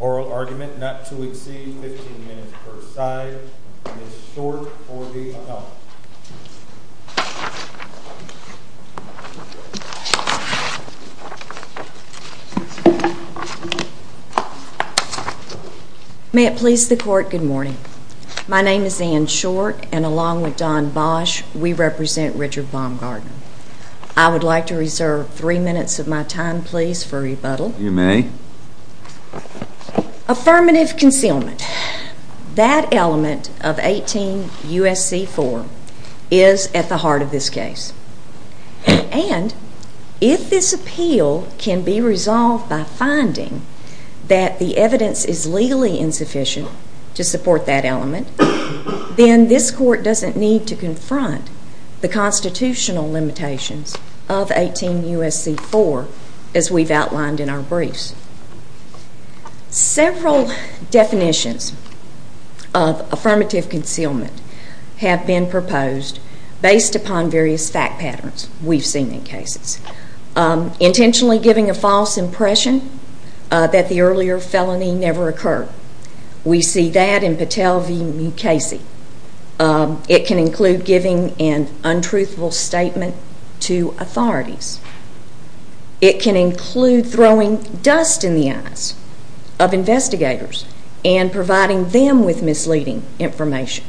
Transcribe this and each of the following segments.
Oral argument not to exceed 15 minutes per side and is short for the amount. May it please the court, good morning. My name is Anne Short and along with Don Bosch we represent Richard Baumgartner. I would like to reserve three minutes of my time please for rebuttal. You may. Affirmative concealment. That element of 18 U.S.C. 4 is at the heart of this case. And if this appeal can be resolved by finding that the evidence is legally insufficient to support that element, then this court doesn't need to confront the constitutional limitations of 18 U.S.C. 4 as we've outlined in our briefs. Several definitions of affirmative concealment have been proposed based upon various fact patterns we've seen in cases. Intentionally giving a false impression that the earlier felony never occurred. We see that in Patel v. Mukasey. It can include giving an untruthful statement to authorities. It can include throwing dust in the eyes of investigators and providing them with misleading information.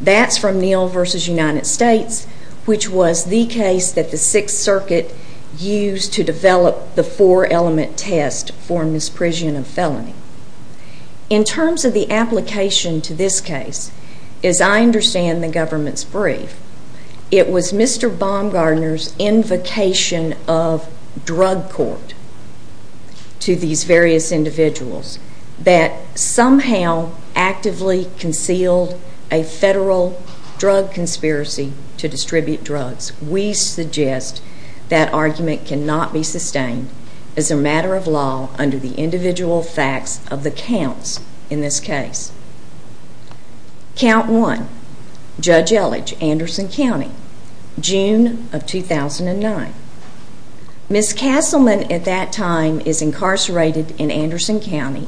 That's from Neal v. United States, which was the case that the Sixth Circuit used to develop the four element test for misprision of felony. In terms of the application to this case, as I understand the government's brief, it was Mr. Baumgartner's invocation of drug court to these various individuals that somehow actively concealed a federal drug conspiracy to distribute drugs. We suggest that argument cannot be sustained as a matter of law under the individual facts of the counts in this case. Count 1, Judge Elledge, Anderson County, June of 2009. Ms. Castleman at that time is incarcerated in Anderson County.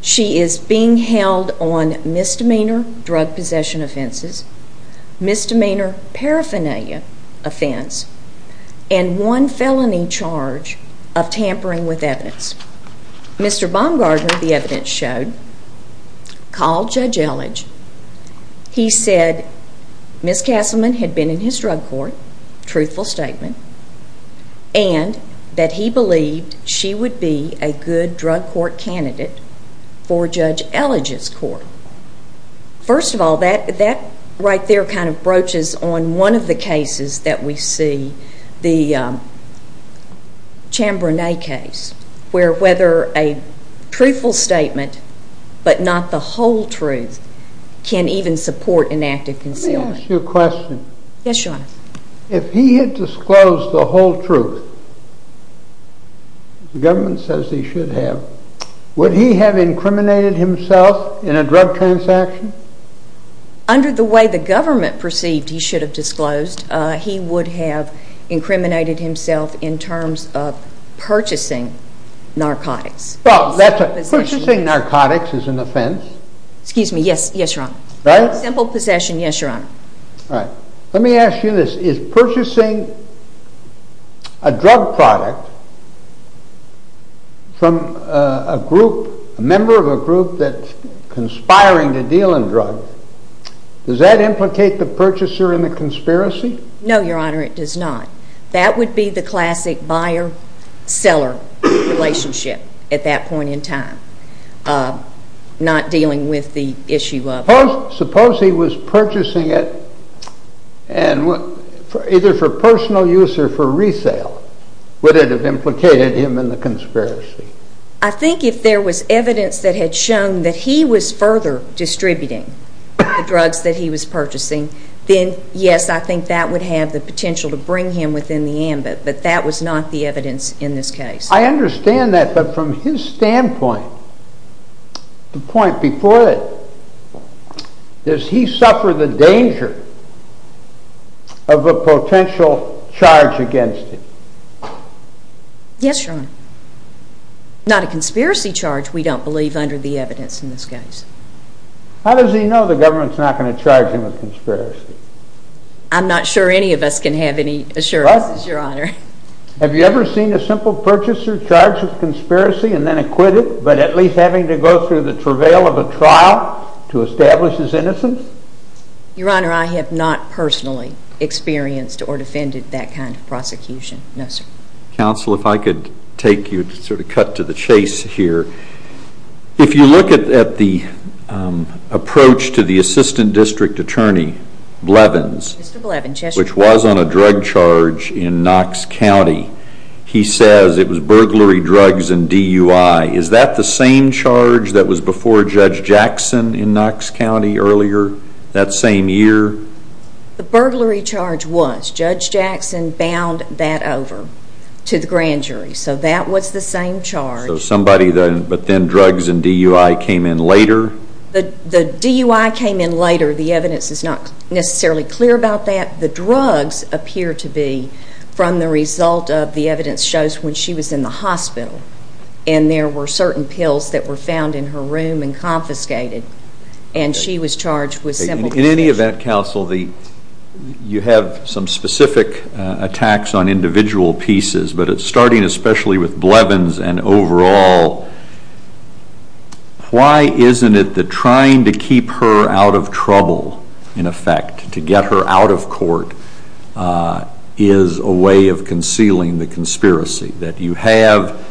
She is being held on misdemeanor drug possession offenses, misdemeanor paraphernalia offense, and one felony charge of tampering with evidence. Mr. Baumgartner, the evidence showed, called Judge Elledge. He said Ms. Castleman had been in his drug court, truthful statement, and that he believed she would be a good drug court candidate for Judge Elledge's court. First of all, that right there kind of broaches on one of the cases that we see, the Chambrenay case, where whether a truthful statement, but not the whole truth, can even support an act of concealment. Let me ask you a question. Yes, Your Honor. If he had disclosed the whole truth, the government says he should have, would he have incriminated himself in a drug transaction? Under the way the government perceived he should have disclosed, he would have incriminated himself in terms of purchasing narcotics. Well, purchasing narcotics is an offense. Excuse me, yes, Your Honor. Simple possession, yes, Your Honor. All right. Let me ask you this. Is purchasing a drug product from a group, a member of a group that's conspiring to deal in drugs, does that implicate the purchaser in the conspiracy? No, Your Honor, it does not. That would be the classic buyer-seller relationship at that point in time, not dealing with the issue of... Suppose he was purchasing it either for personal use or for resale. Would it have implicated him in the conspiracy? I think if there was evidence that had shown that he was further distributing the drugs that he was purchasing, then yes, I think that would have the potential to bring him within the ambit, but that was not the evidence in this case. I understand that, but from his standpoint, the point before it, does he suffer the danger of a potential charge against him? Yes, Your Honor. Not a conspiracy charge, we don't believe, under the evidence in this case. How does he know the government's not going to charge him with conspiracy? I'm not sure any of us can have any assurance, Your Honor. Have you ever seen a simple purchaser charged with conspiracy and then acquitted, but at least having to go through the travail of a trial to establish his innocence? Your Honor, I have not personally experienced or defended that kind of prosecution, no, sir. Counsel, if I could take you to sort of cut to the chase here, if you look at the approach to the assistant district attorney, Blevins, which was on a drug charge in Knox County, he says it was burglary drugs and DUI. Is that the same charge that was before Judge Jackson in Knox County earlier that same year? The burglary charge was, Judge Jackson bound that over to the grand jury, so that was the same charge. So somebody, but then drugs and DUI came in later? The DUI came in later. The evidence is not necessarily clear about that. The drugs appear to be from the result of the evidence shows when she was in the hospital and there were certain pills that were found in her room and confiscated, and she was charged with simple... In any event, Counsel, you have some specific attacks on individual pieces, but starting especially with Blevins and overall, why isn't it that trying to keep her out of trouble in effect, to get her out of court, is a way of concealing the conspiracy, that you have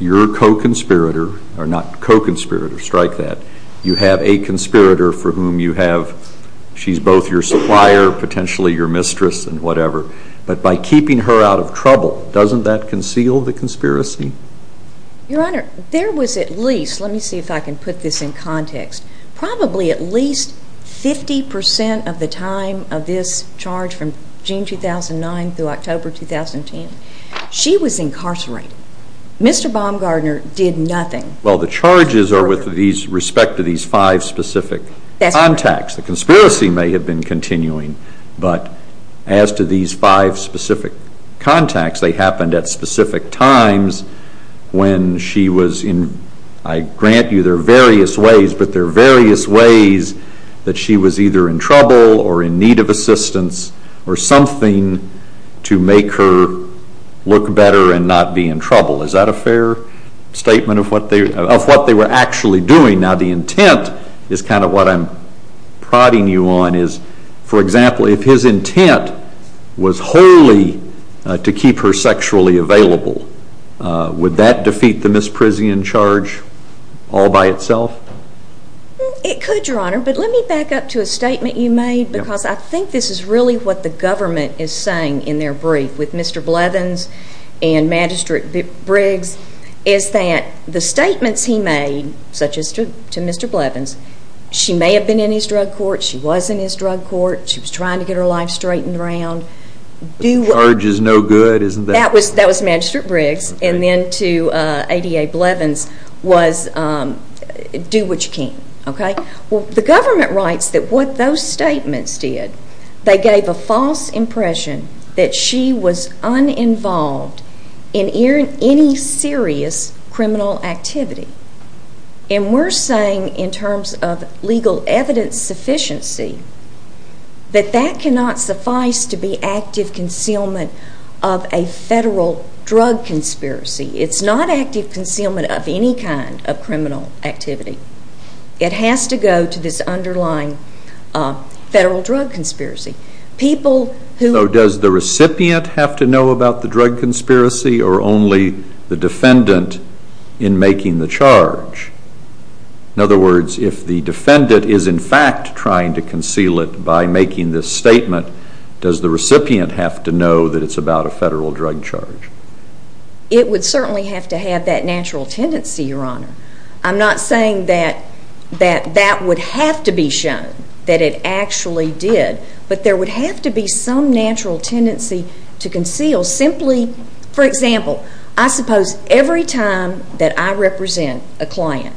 your co-conspirator, or not co-conspirator, strike that, you have a conspirator for whom you have, she's both your supplier, potentially your mistress and whatever, but by keeping her out of trouble, doesn't that conceal the conspiracy? Your Honor, there was at least, let me see if I can put this in context, probably at least 50% of the time of this charge from June 2009 through October 2010, she was incarcerated. Mr. Baumgardner did nothing. Well, the charges are with respect to these five specific contacts, the conspiracy may have been continuing, but as to these five specific contacts, they happened at specific times when she was in, I grant you there are various ways, but there are various ways that she was either in trouble or in need of assistance or something to make her look better and not be in trouble. Is that a fair statement of what they were actually doing? Now, the intent is kind of what I'm prodding you on is, for example, if his intent was wholly to keep her sexually available, would that defeat the misprision charge all by itself? It could, Your Honor, but let me back up to a statement you made, because I think this is really what the government is saying in their brief with Mr. Blevins and Magistrate Briggs, is that the statements he made, such as to Mr. Blevins, she may have been in his drug court, she was in his drug court, she was trying to get her life straightened around. The charge is no good, isn't that? That was Magistrate Briggs, and then to ADA Blevins was do what you can. The government writes that what those statements did, they gave a false impression that she was uninvolved in any serious criminal activity, and we're saying in terms of legal evidence sufficiency that that cannot suffice to be active concealment of a federal drug conspiracy. It's not active concealment of any kind of criminal activity. It has to go to this underlying federal drug conspiracy. So does the recipient have to know about the drug conspiracy, or only the defendant in making the charge? In other words, if the defendant is in fact trying to conceal it by making this statement, does the recipient have to know that it's about a federal drug charge? It would certainly have to have that natural tendency, Your Honor. I'm not saying that that would have to be shown, that it actually did, but there would have to be some natural tendency to conceal simply. For example, I suppose every time that I represent a client,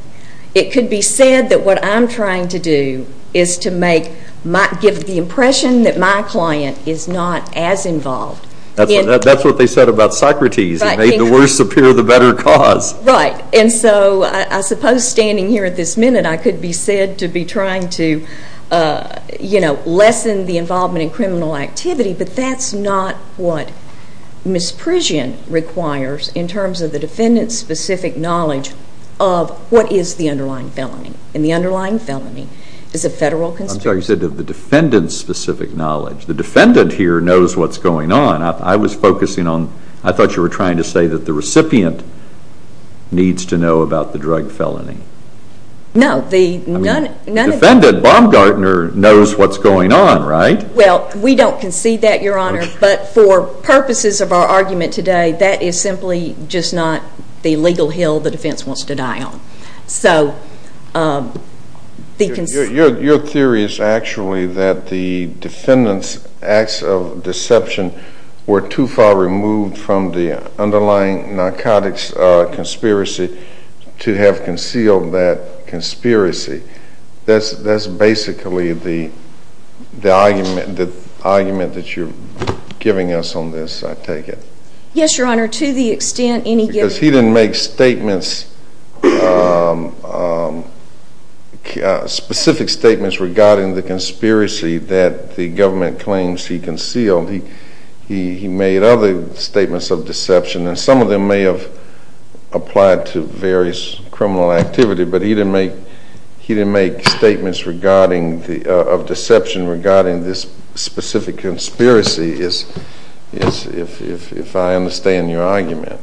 it could be said that what I'm trying to do is to give the impression that my client is not as involved. That's what they said about Socrates, he made the worst appear the better cause. Right. And so I suppose standing here at this minute, I could be said to be trying to, you know, lessen the involvement in criminal activity, but that's not what misprision requires in terms of the defendant's specific knowledge of what is the underlying felony, and the underlying felony is a federal conspiracy. I'm sorry, you said the defendant's specific knowledge. The defendant here knows what's going on. I was focusing on, I thought you were trying to say that the recipient needs to know about the drug felony. No. I mean, the defendant, Baumgartner, knows what's going on, right? Well, we don't concede that, Your Honor, but for purposes of our argument today, that is simply just not the legal hill the defense wants to die on. So, the cons... Your theory is actually that the defendant's acts of deception were too far removed from the underlying narcotics conspiracy to have concealed that conspiracy. That's basically the argument that you're giving us on this, I take it. Yes, Your Honor, to the extent any given... Specific statements regarding the conspiracy that the government claims he concealed, he made other statements of deception, and some of them may have applied to various criminal activity, but he didn't make statements of deception regarding this specific conspiracy, if I understand your argument.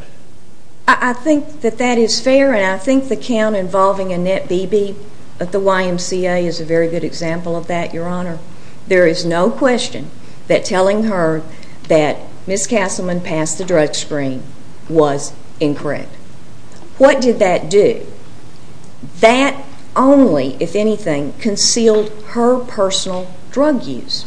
I think that that is fair, and I think the count involving Annette Beebe at the YMCA is a very good example of that, Your Honor. There is no question that telling her that Ms. Castleman passed the drug screen was incorrect. What did that do? That only, if anything, concealed her personal drug use.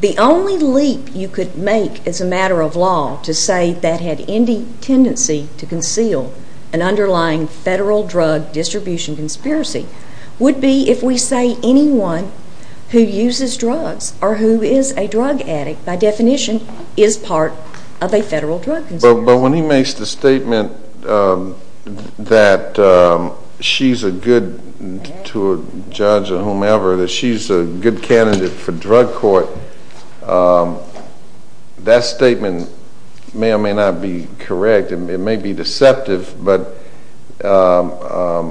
The only leap you could make as a matter of law to say that had any tendency to conceal an underlying federal drug distribution conspiracy would be if we say anyone who uses drugs or who is a drug addict, by definition, is part of a federal drug conspiracy. But when he makes the statement that she's a good, to a judge or whomever, that she's a good candidate for drug court, that statement may or may not be correct. It may be deceptive, but that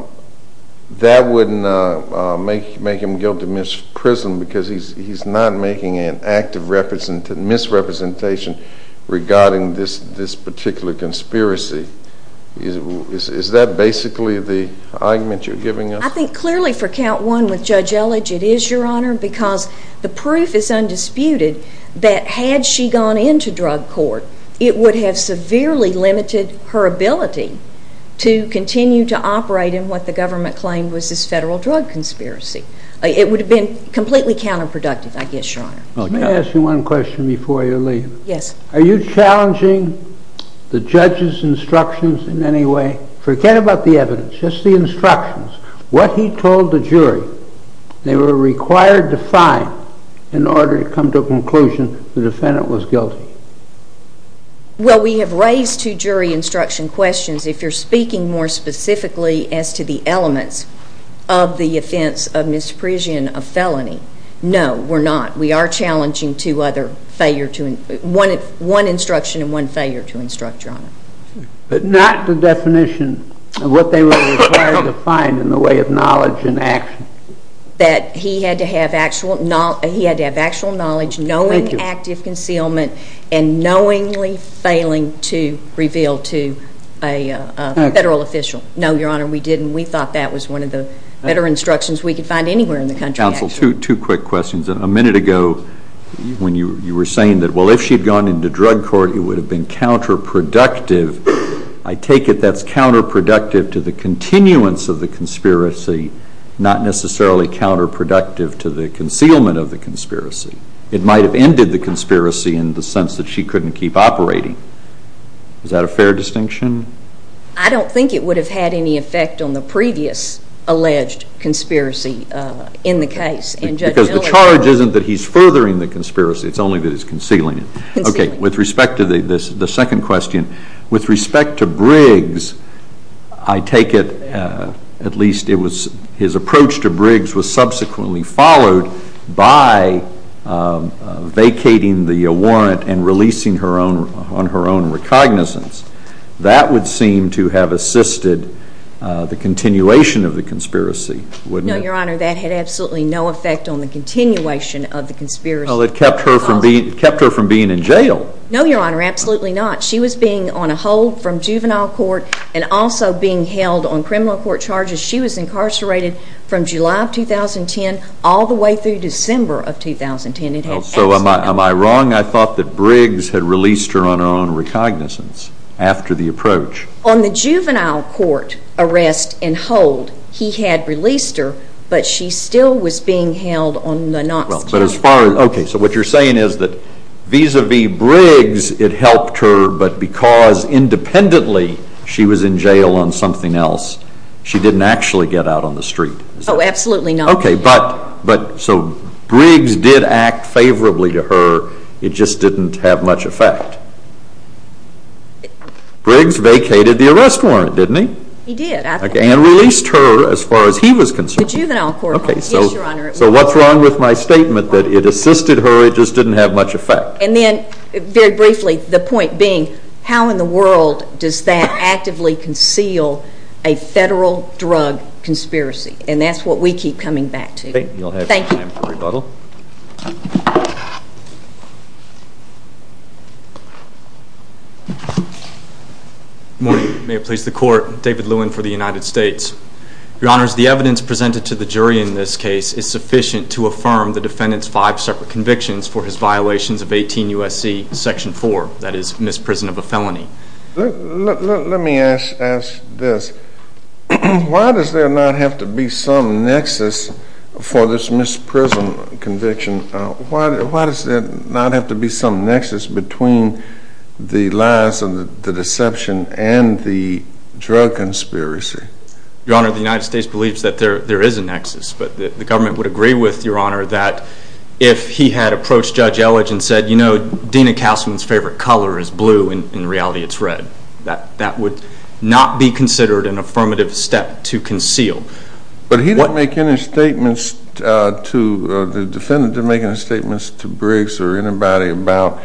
wouldn't make him guilty of misprision because he's not making an act of misrepresentation regarding this particular conspiracy. Is that basically the argument you're giving us? I think clearly for count one with Judge Elledge it is, Your Honor, because the proof is undisputed that had she gone into drug court, it would have severely limited her ability to continue to operate in what the government claimed was this federal drug conspiracy. It would have been completely counterproductive, I guess, Your Honor. Let me ask you one question before you leave. Yes. Are you challenging the judge's instructions in any way? Forget about the evidence, just the instructions. What he told the jury they were required to find in order to come to a conclusion the defendant was guilty. Well, we have raised two jury instruction questions. If you're speaking more specifically as to the elements of the offense of misprision of felony, no, we're not. We are challenging two other failure to, one instruction and one failure to instruct, Your Honor. But not the definition of what they were required to find in the way of knowledge and action. That he had to have actual knowledge, knowing active concealment, and knowingly failing to reveal to a federal official. No, Your Honor, we didn't. We thought that was one of the better instructions we could find anywhere in the country, actually. Two quick questions. A minute ago when you were saying that, well, if she had gone into drug court, it would have been counterproductive. I take it that's counterproductive to the continuance of the conspiracy, not necessarily counterproductive to the concealment of the conspiracy. It might have ended the conspiracy in the sense that she couldn't keep operating. Is that a fair distinction? I don't think it would have had any effect on the previous alleged conspiracy in the case. Because the charge isn't that he's furthering the conspiracy, it's only that he's concealing it. Okay. With respect to the second question, with respect to Briggs, I take it at least his approach to Briggs was subsequently followed by vacating the warrant and releasing her own on her own recognizance. That would seem to have assisted the continuation of the conspiracy, wouldn't it? No, Your Honor, that had absolutely no effect on the continuation of the conspiracy. Well, it kept her from being in jail. No, Your Honor, absolutely not. She was being on a hold from juvenile court and also being held on criminal court charges. She was incarcerated from July of 2010 all the way through December of 2010. So am I wrong? I thought that Briggs had released her on her own recognizance after the approach. On the juvenile court arrest and hold, he had released her, but she still was being held on the not-scalable. Okay. So what you're saying is that vis-à-vis Briggs, it helped her, but because independently she was in jail on something else, she didn't actually get out on the street. Oh, absolutely not. Okay. But so Briggs did act favorably to her. It just didn't have much effect. Briggs vacated the arrest warrant, didn't he? He did, I think. And released her as far as he was concerned. The juvenile court warrant. Okay. Yes, Your Honor. So what's wrong with my statement that it assisted her, it just didn't have much effect? And then, very briefly, the point being, how in the world does that actively conceal a federal drug conspiracy? And that's what we keep coming back to. Okay. You'll have time for rebuttal. Thank you. Good morning. May it please the Court, David Lewin for the United States. Your Honor, the evidence presented to the jury in this case is sufficient to affirm the defendant's five separate convictions for his violations of 18 U.S.C. section 4, that is, misprison of a felony. Let me ask this. Why does there not have to be some nexus for this misprison conviction? Why does there not have to be some nexus between the lies and the deception and the drug conspiracy? Your Honor, the United States believes that there is a nexus, but the government would agree with, Your Honor, that if he had approached Judge Elledge and said, you know, Dena Castleman's favorite color is blue, and in reality it's red, that that would not be considered an affirmative step to conceal. But he didn't make any statements to, the defendant didn't make any statements to Briggs or anybody about,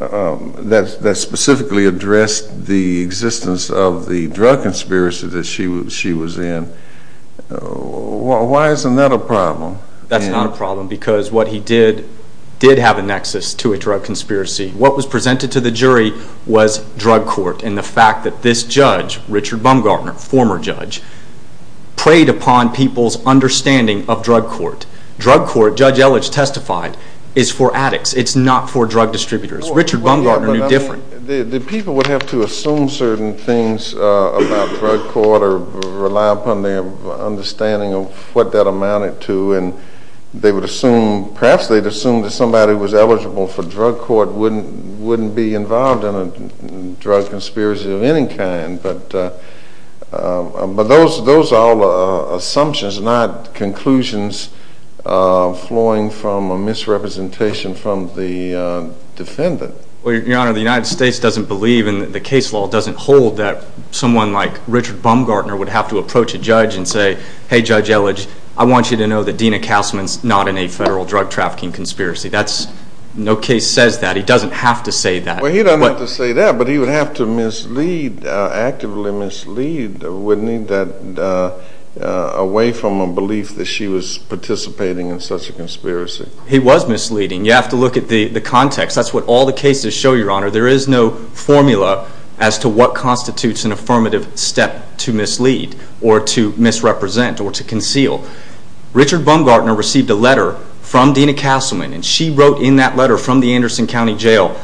that specifically addressed the existence of the drug conspiracy that she was in. Why isn't that a problem? That's not a problem because what he did, did have a nexus to a drug conspiracy. What was presented to the jury was drug court and the fact that this judge, Richard Bumgarner, former judge, preyed upon people's understanding of drug court. Drug court, Judge Elledge testified, is for addicts. It's not for drug distributors. Richard Bumgarner knew different. The people would have to assume certain things about drug court or rely upon their understanding of what that amounted to and they would assume, perhaps they'd assume that somebody who was eligible for drug court wouldn't be involved in a drug conspiracy of any kind. But those are all assumptions, not conclusions flowing from a misrepresentation from the defendant. Your Honor, the United States doesn't believe and the case law doesn't hold that someone like Richard Bumgarner would have to approach a judge and say, hey Judge Elledge, I want you to know that Dena Kalsman's not in a federal drug trafficking conspiracy. No case says that. He doesn't have to say that. Well, he doesn't have to say that, but he would have to mislead, actively mislead, wouldn't he, away from a belief that she was participating in such a conspiracy. He was misleading. You have to look at the context. That's what all the cases show, Your Honor. There is no formula as to what constitutes an affirmative step to mislead or to misrepresent or to conceal. Richard Bumgarner received a letter from Dena Kalsman and she wrote in that letter from the Anderson County Jail,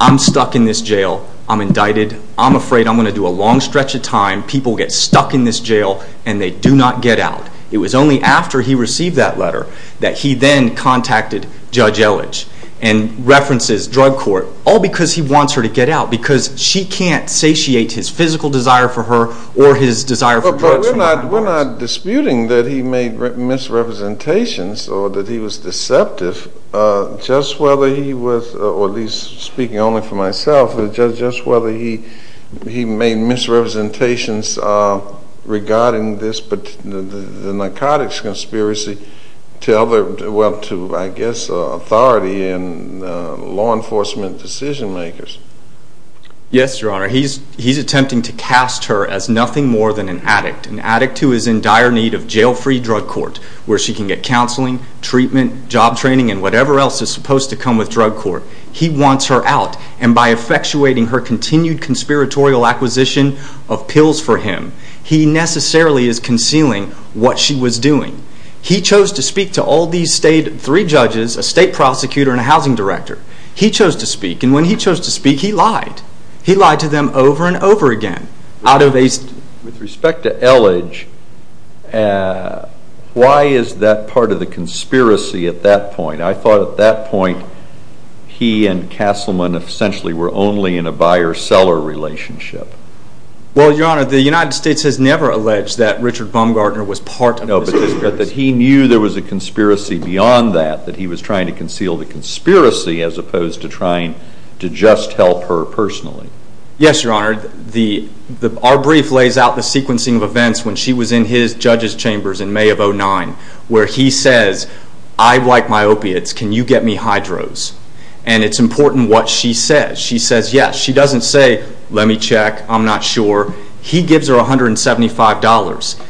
I'm stuck in this jail. I'm indicted. I'm afraid I'm going to do a long stretch of time. People get stuck in this jail and they do not get out. It was only after he received that letter that he then contacted Judge Elledge and references drug court, all because he wants her to get out, because she can't satiate his physical desire for her or his desire for drugs from her house. We're not disputing that he made misrepresentations or that he was deceptive. Just whether he was, or at least speaking only for myself, just whether he made misrepresentations regarding this, the narcotics conspiracy, to other, well to I guess authority and law enforcement decision makers. Yes, Your Honor. He's attempting to cast her as nothing more than an addict, an addict who is in dire need of jail-free drug court where she can get counseling, treatment, job training, and whatever else is supposed to come with drug court. He wants her out and by effectuating her continued conspiratorial acquisition of pills for him, he necessarily is concealing what she was doing. He chose to speak to all these state, three judges, a state prosecutor and a housing director. He chose to speak and when he chose to speak he lied. He lied to them over and over again. Out of a... With respect to Elledge, why is that part of the conspiracy at that point? I thought at that point he and Castleman essentially were only in a buyer-seller relationship. Well, Your Honor, the United States has never alleged that Richard Baumgartner was part of this conspiracy. No, but he knew there was a conspiracy beyond that, that he was trying to conceal the conspiracy as opposed to trying to just help her personally. Yes, Your Honor. Our brief lays out the sequencing of events when she was in his judge's chambers in May of 2009 where he says, I like my opiates. Can you get me hydros? And it's important what she says. She says yes. She doesn't say, let me check, I'm not sure. He gives her $175.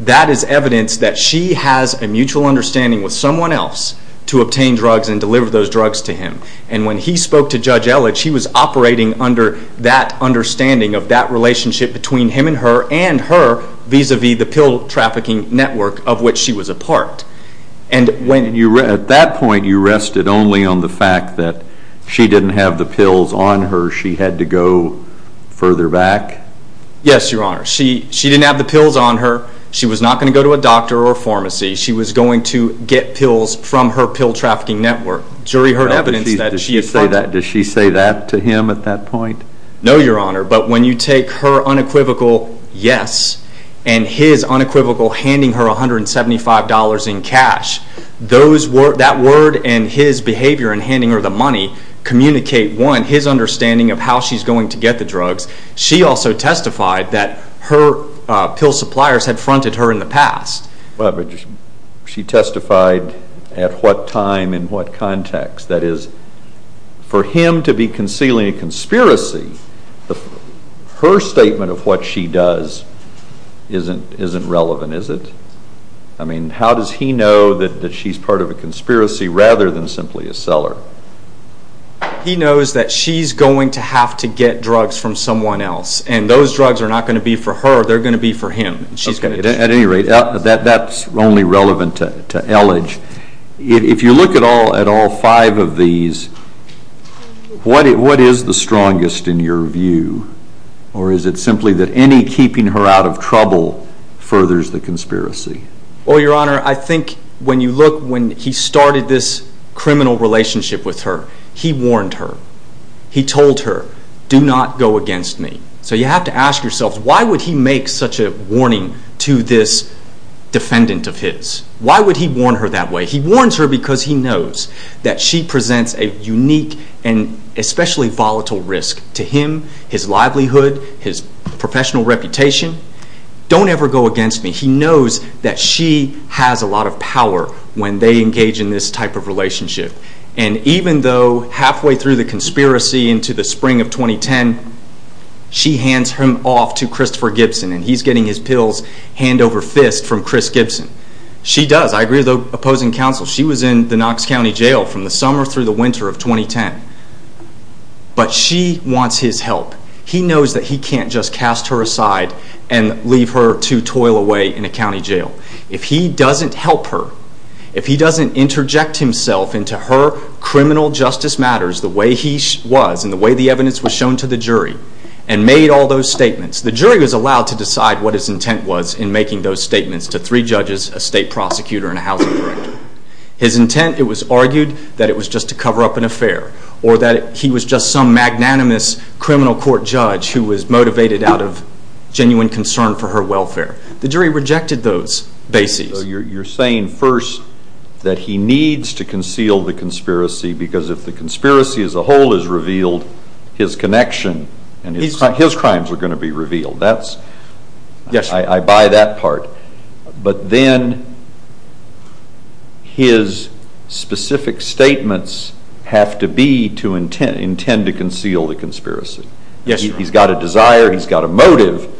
That is evidence that she has a mutual understanding with someone else to obtain drugs and deliver those drugs to him. And when he spoke to Judge Elledge, he was operating under that understanding of that relationship between him and her and her vis-a-vis the pill trafficking network of which she was a part. And when you, at that point, you rested only on the fact that she didn't have the pills on her. She had to go further back? Yes, Your Honor. She didn't have the pills on her. She was not going to go to a doctor or a pharmacy. She was going to get pills from her pill trafficking network. Jury heard evidence that she had partnered. Does she say that to him at that point? No, Your Honor, but when you take her unequivocal yes and his unequivocal handing her $175 in cash, that word and his behavior in handing her the money communicate, one, his understanding of how she's going to get the drugs. She also testified that her pill suppliers had fronted her in the past. She testified at what time in what context. That is, for him to be concealing a conspiracy, her statement of what she does isn't relevant, is it? I mean, how does he know that she's part of a conspiracy rather than simply a seller? He knows that she's going to have to get drugs from someone else, and those drugs are not going to be for her. They're going to be for him. At any rate, that's only relevant to Elledge. If you look at all five of these, what is the strongest in your view, or is it simply that any keeping her out of trouble furthers the conspiracy? Well, Your Honor, I think when you look when he started this criminal relationship with her, he warned her. He told her, do not go against me. So you have to ask yourself, why would he make such a warning to this defendant of his? Why would he warn her that way? He warns her because he knows that she presents a unique and especially volatile risk to him, his livelihood, his professional reputation. Don't ever go against me. He knows that she has a lot of power when they engage in this type of relationship. And even though halfway through the conspiracy into the spring of 2010, she hands him off to Christopher Gibson, and he's getting his pills hand over fist from Chris Gibson. She does. I agree with the opposing counsel. She was in the Knox County Jail from the summer through the winter of 2010. But she wants his help. He knows that he can't just cast her aside and leave her to toil away in a county jail. If he doesn't help her, if he doesn't interject himself into her criminal justice matters the way he was and the way the evidence was shown to the jury and made all those statements, the jury was allowed to decide what his intent was in making those statements to three judges, a state prosecutor, and a housing director. His intent, it was argued that it was just to cover up an affair or that he was just some magnanimous criminal court judge who was motivated out of genuine concern for her welfare. The jury rejected those bases. You're saying first that he needs to conceal the conspiracy because if the conspiracy as a whole is revealed, his connection and his crimes are going to be revealed. I buy that part. But then his specific statements have to be to intend to conceal the conspiracy. He's got a desire. He's got a motive.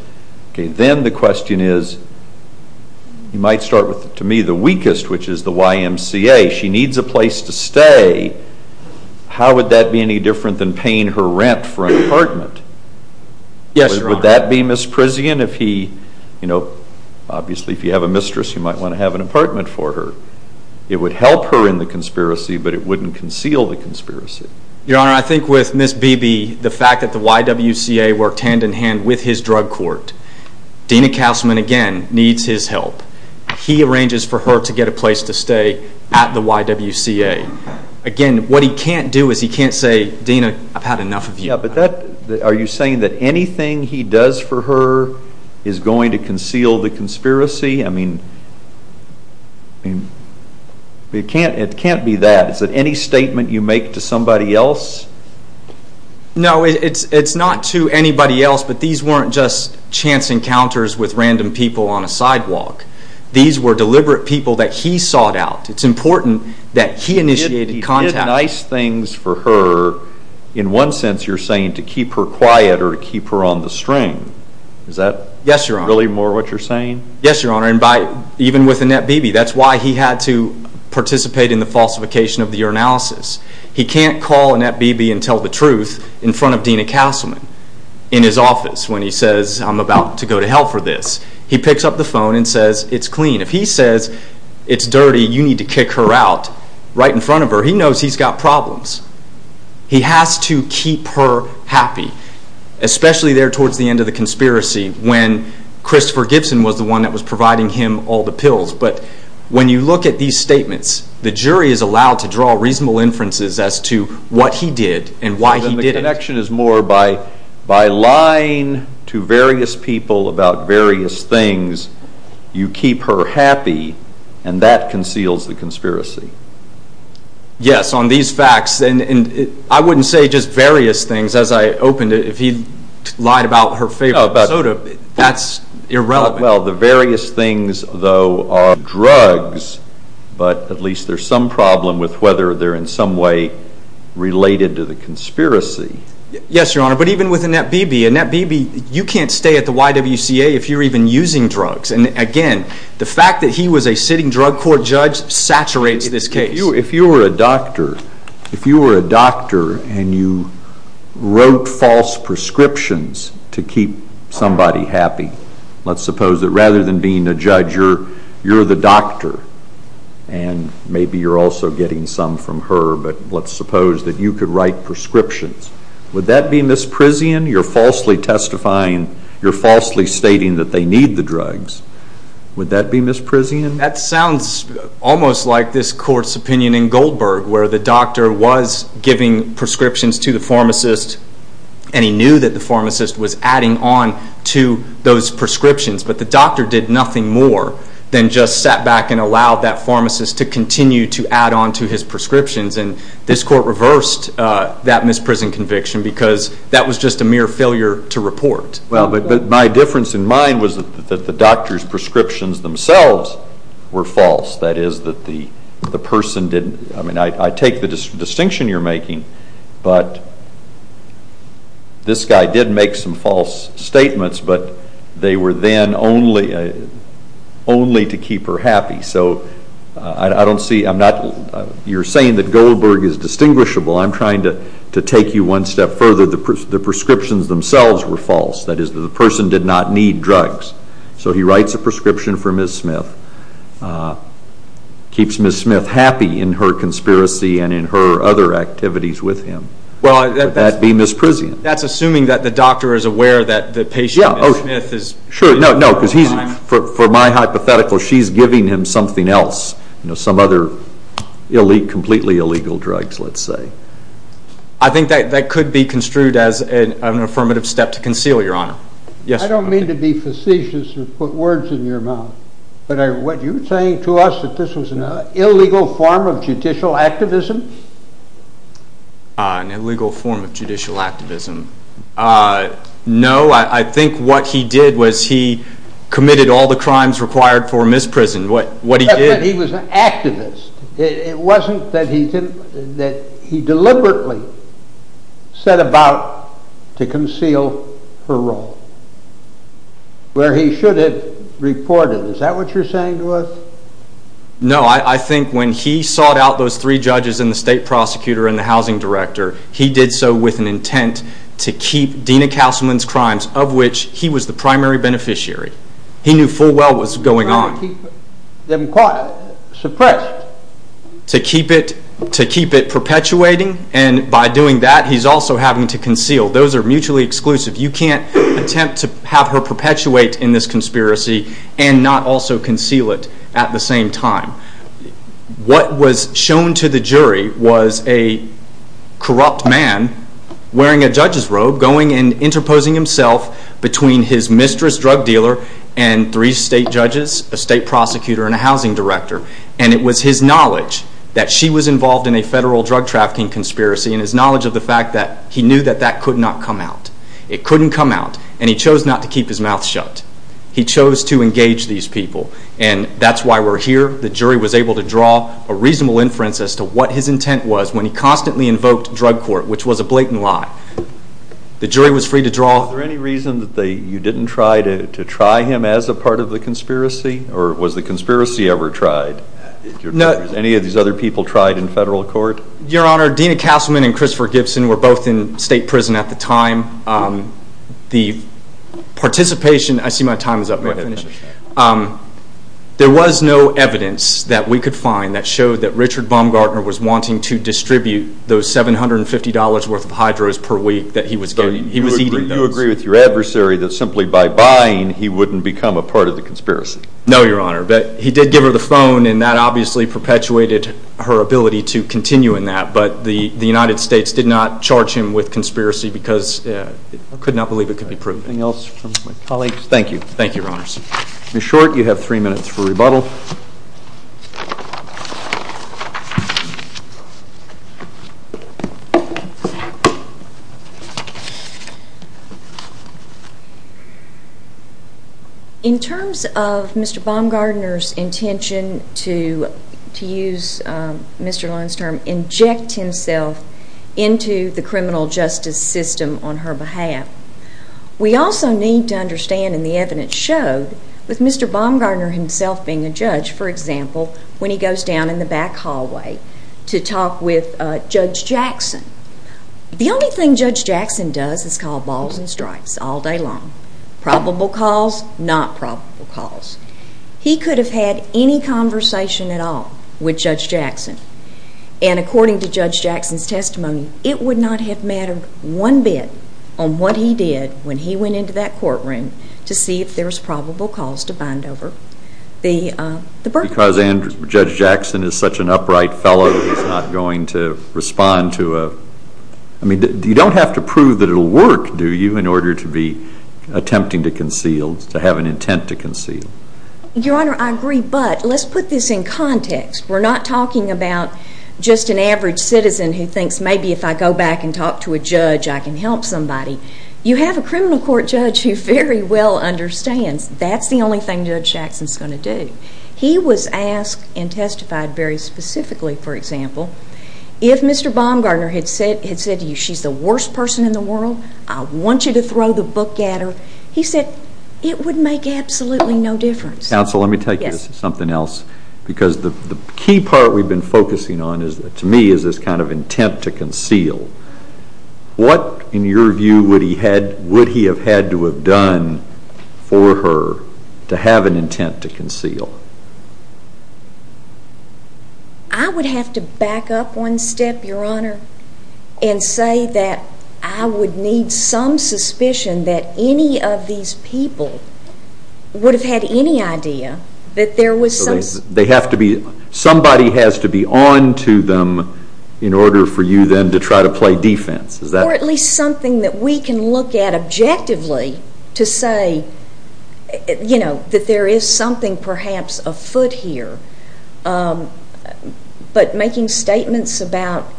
Then the question is, he might start with, to me, the weakest, which is the YMCA. She needs a place to stay. How would that be any different than paying her rent for an apartment? Yes, Your Honor. Would that be Miss Prizian if he, you know, obviously if you have a mistress, you might want to have an apartment for her. It would help her in the conspiracy, but it wouldn't conceal the conspiracy. Your Honor, I think with Miss Beebe, the fact that the YWCA worked hand-in-hand with his drug court, Dena Castleman, again, needs his help. He arranges for her to get a place to stay at the YWCA. Again, what he can't do is he can't say, Dena, I've had enough of you. Are you saying that anything he does for her is going to conceal the conspiracy? I mean, it can't be that. Is it any statement you make to somebody else? No, it's not to anybody else, but these weren't just chance encounters with random people on a sidewalk. These were deliberate people that he sought out. It's important that he initiated contact. Nice things for her, in one sense you're saying, to keep her quiet or to keep her on the string. Is that really more what you're saying? Yes, Your Honor, and even with Annette Beebe. That's why he had to participate in the falsification of the urinalysis. He can't call Annette Beebe and tell the truth in front of Dena Castleman in his office when he says, I'm about to go to hell for this. He picks up the phone and says, it's clean. If he says, it's dirty, you need to kick her out, right in front of her, he knows he's got problems. He has to keep her happy, especially there towards the end of the conspiracy when Christopher Gibson was the one that was providing him all the pills. When you look at these statements, the jury is allowed to draw reasonable inferences as to what he did and why he did it. So then the connection is more by lying to various people about various things, you keep her happy, and that conceals the conspiracy. Yes, on these facts, and I wouldn't say just various things. As I opened it, if he lied about her favorite soda, that's irrelevant. Well, the various things, though, are drugs, but at least there's some problem with whether they're in some way related to the conspiracy. Yes, Your Honor, but even with Annette Beebe, Annette Beebe, you can't stay at the YWCA if you're even using drugs. And again, the fact that he was a sitting drug court judge saturates this case. If you were a doctor, if you were a doctor and you wrote false prescriptions to keep somebody happy, let's suppose that rather than being a judge, you're the doctor, and maybe you're also getting some from her, but let's suppose that you could write prescriptions, would that be misprision? You're falsely testifying. You're falsely stating that they need the drugs. Would that be misprision? That sounds almost like this court's opinion in Goldberg, where the doctor was giving prescriptions to the pharmacist, and he knew that the pharmacist was adding on to those prescriptions, but the doctor did nothing more than just sat back and allowed that pharmacist to continue to add on to his prescriptions, and this court reversed that misprison conviction because that was just a mere failure to report. Well, but my difference in mind was that the doctor's prescriptions themselves were false. That is, that the person didn't, I mean, I take the distinction you're making, but this guy did make some false statements, but they were then only to keep her happy. So I don't see, I'm not, you're saying that Goldberg is distinguishable. I'm trying to take you one step further. The prescriptions themselves were false. That is, that the person did not need drugs. So he writes a prescription for Ms. Smith, keeps Ms. Smith happy in her conspiracy and in her other activities with him. Would that be misprision? That's assuming that the doctor is aware that the patient, Ms. Smith, is in there all the time. Sure, no, no, because he's, for my hypothetical, she's giving him something else, you know, some other completely illegal drugs, let's say. I think that could be construed as an affirmative step to conceal, Your Honor. Yes, Your Honor. I don't mean to be facetious and put words in your mouth, but what you're saying to us that this was an illegal form of judicial activism? An illegal form of judicial activism. No, I think what he did was he committed all the crimes required for misprison. Yes, but he was an activist. It wasn't that he deliberately set about to conceal her role, where he should have reported. Is that what you're saying to us? No. I think when he sought out those three judges and the state prosecutor and the housing director, he did so with an intent to keep Dena Castleman's crimes, of which he was the primary beneficiary. He knew full well what was going on. He was trying to keep them quiet, suppressed. To keep it perpetuating, and by doing that, he's also having to conceal. Those are mutually exclusive. You can't attempt to have her perpetuate in this conspiracy and not also conceal it at the same time. What was shown to the jury was a corrupt man wearing a judge's robe, going and interposing himself between his mistress drug dealer and three state judges, a state prosecutor and a housing director. It was his knowledge that she was involved in a federal drug trafficking conspiracy and his knowledge of the fact that he knew that that could not come out. It couldn't come out, and he chose not to keep his mouth shut. He chose to engage these people, and that's why we're here. The jury was able to draw a reasonable inference as to what his intent was when he constantly invoked drug court, which was a blatant lie. The jury was free to draw. Was there any reason that you didn't try him as a part of the conspiracy, or was the conspiracy ever tried? Any of these other people tried in federal court? Your Honor, Dena Castleman and Christopher Gibson were both in state prison at the time. The participation—I see my time is up. There was no evidence that we could find that showed that Richard Baumgartner was wanting to distribute those $750 worth of hydros per week that he was getting. He was eating those. So you agree with your adversary that simply by buying he wouldn't become a part of the conspiracy? No, Your Honor, but he did give her the phone, and that obviously perpetuated her ability to continue in that, but the United States did not charge him with conspiracy because it could not believe it could be proven. Anything else from my colleagues? Thank you. Thank you, Your Honors. Ms. Short, you have three minutes for rebuttal. In terms of Mr. Baumgartner's intention to use Mr. Lund's term, inject himself into the criminal justice system on her behalf, we also need to understand, and the evidence showed, with Mr. Baumgartner himself being a judge, for example, when he goes down in the back hallway to talk with Judge Jackson, the only thing Judge Jackson does is call balls and strikes all day long. Probable calls, not probable calls. He could have had any conversation at all with Judge Jackson, and according to Judge Jackson's testimony, it would not have mattered one bit on what he did when he went into that courtroom to see if there was probable cause to bind over the burden. Because Judge Jackson is such an upright fellow, he's not going to respond to a – I mean, you don't have to prove that it will work, do you, in order to be attempting to conceal, to have an intent to conceal? Your Honor, I agree, but let's put this in context. We're not talking about just an average citizen who thinks maybe if I go back and talk to a judge I can help somebody. You have a criminal court judge who very well understands that's the only thing Judge Jackson's going to do. He was asked and testified very specifically, for example, if Mr. Baumgartner had said to you she's the worst person in the world, I want you to throw the book at her, he said it would make absolutely no difference. Counsel, let me take this to something else, because the key part we've been focusing on, to me, is this kind of intent to conceal. What, in your view, would he have had to have done for her to have an intent to conceal? I would have to back up one step, Your Honor, and say that I would need some suspicion that any of these people would have had any idea that there was some – Somebody has to be on to them in order for you then to try to play defense. Or at least something that we can look at objectively to say that there is something perhaps afoot here. But making statements about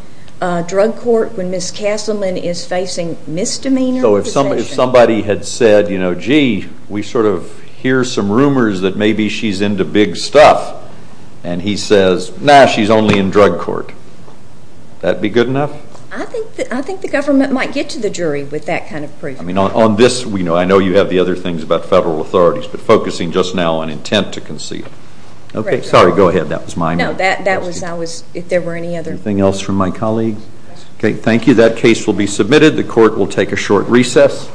drug court when Ms. Castleman is facing misdemeanor. So if somebody had said, gee, we sort of hear some rumors that maybe she's into big stuff, and he says, nah, she's only in drug court, would that be good enough? I think the government might get to the jury with that kind of proof. I mean, on this, I know you have the other things about federal authorities, but focusing just now on intent to conceal. Okay, sorry, go ahead. That was my mistake. No, that was – if there were any other – Anything else from my colleagues? Okay, thank you. That case will be submitted. The court will take a short recess.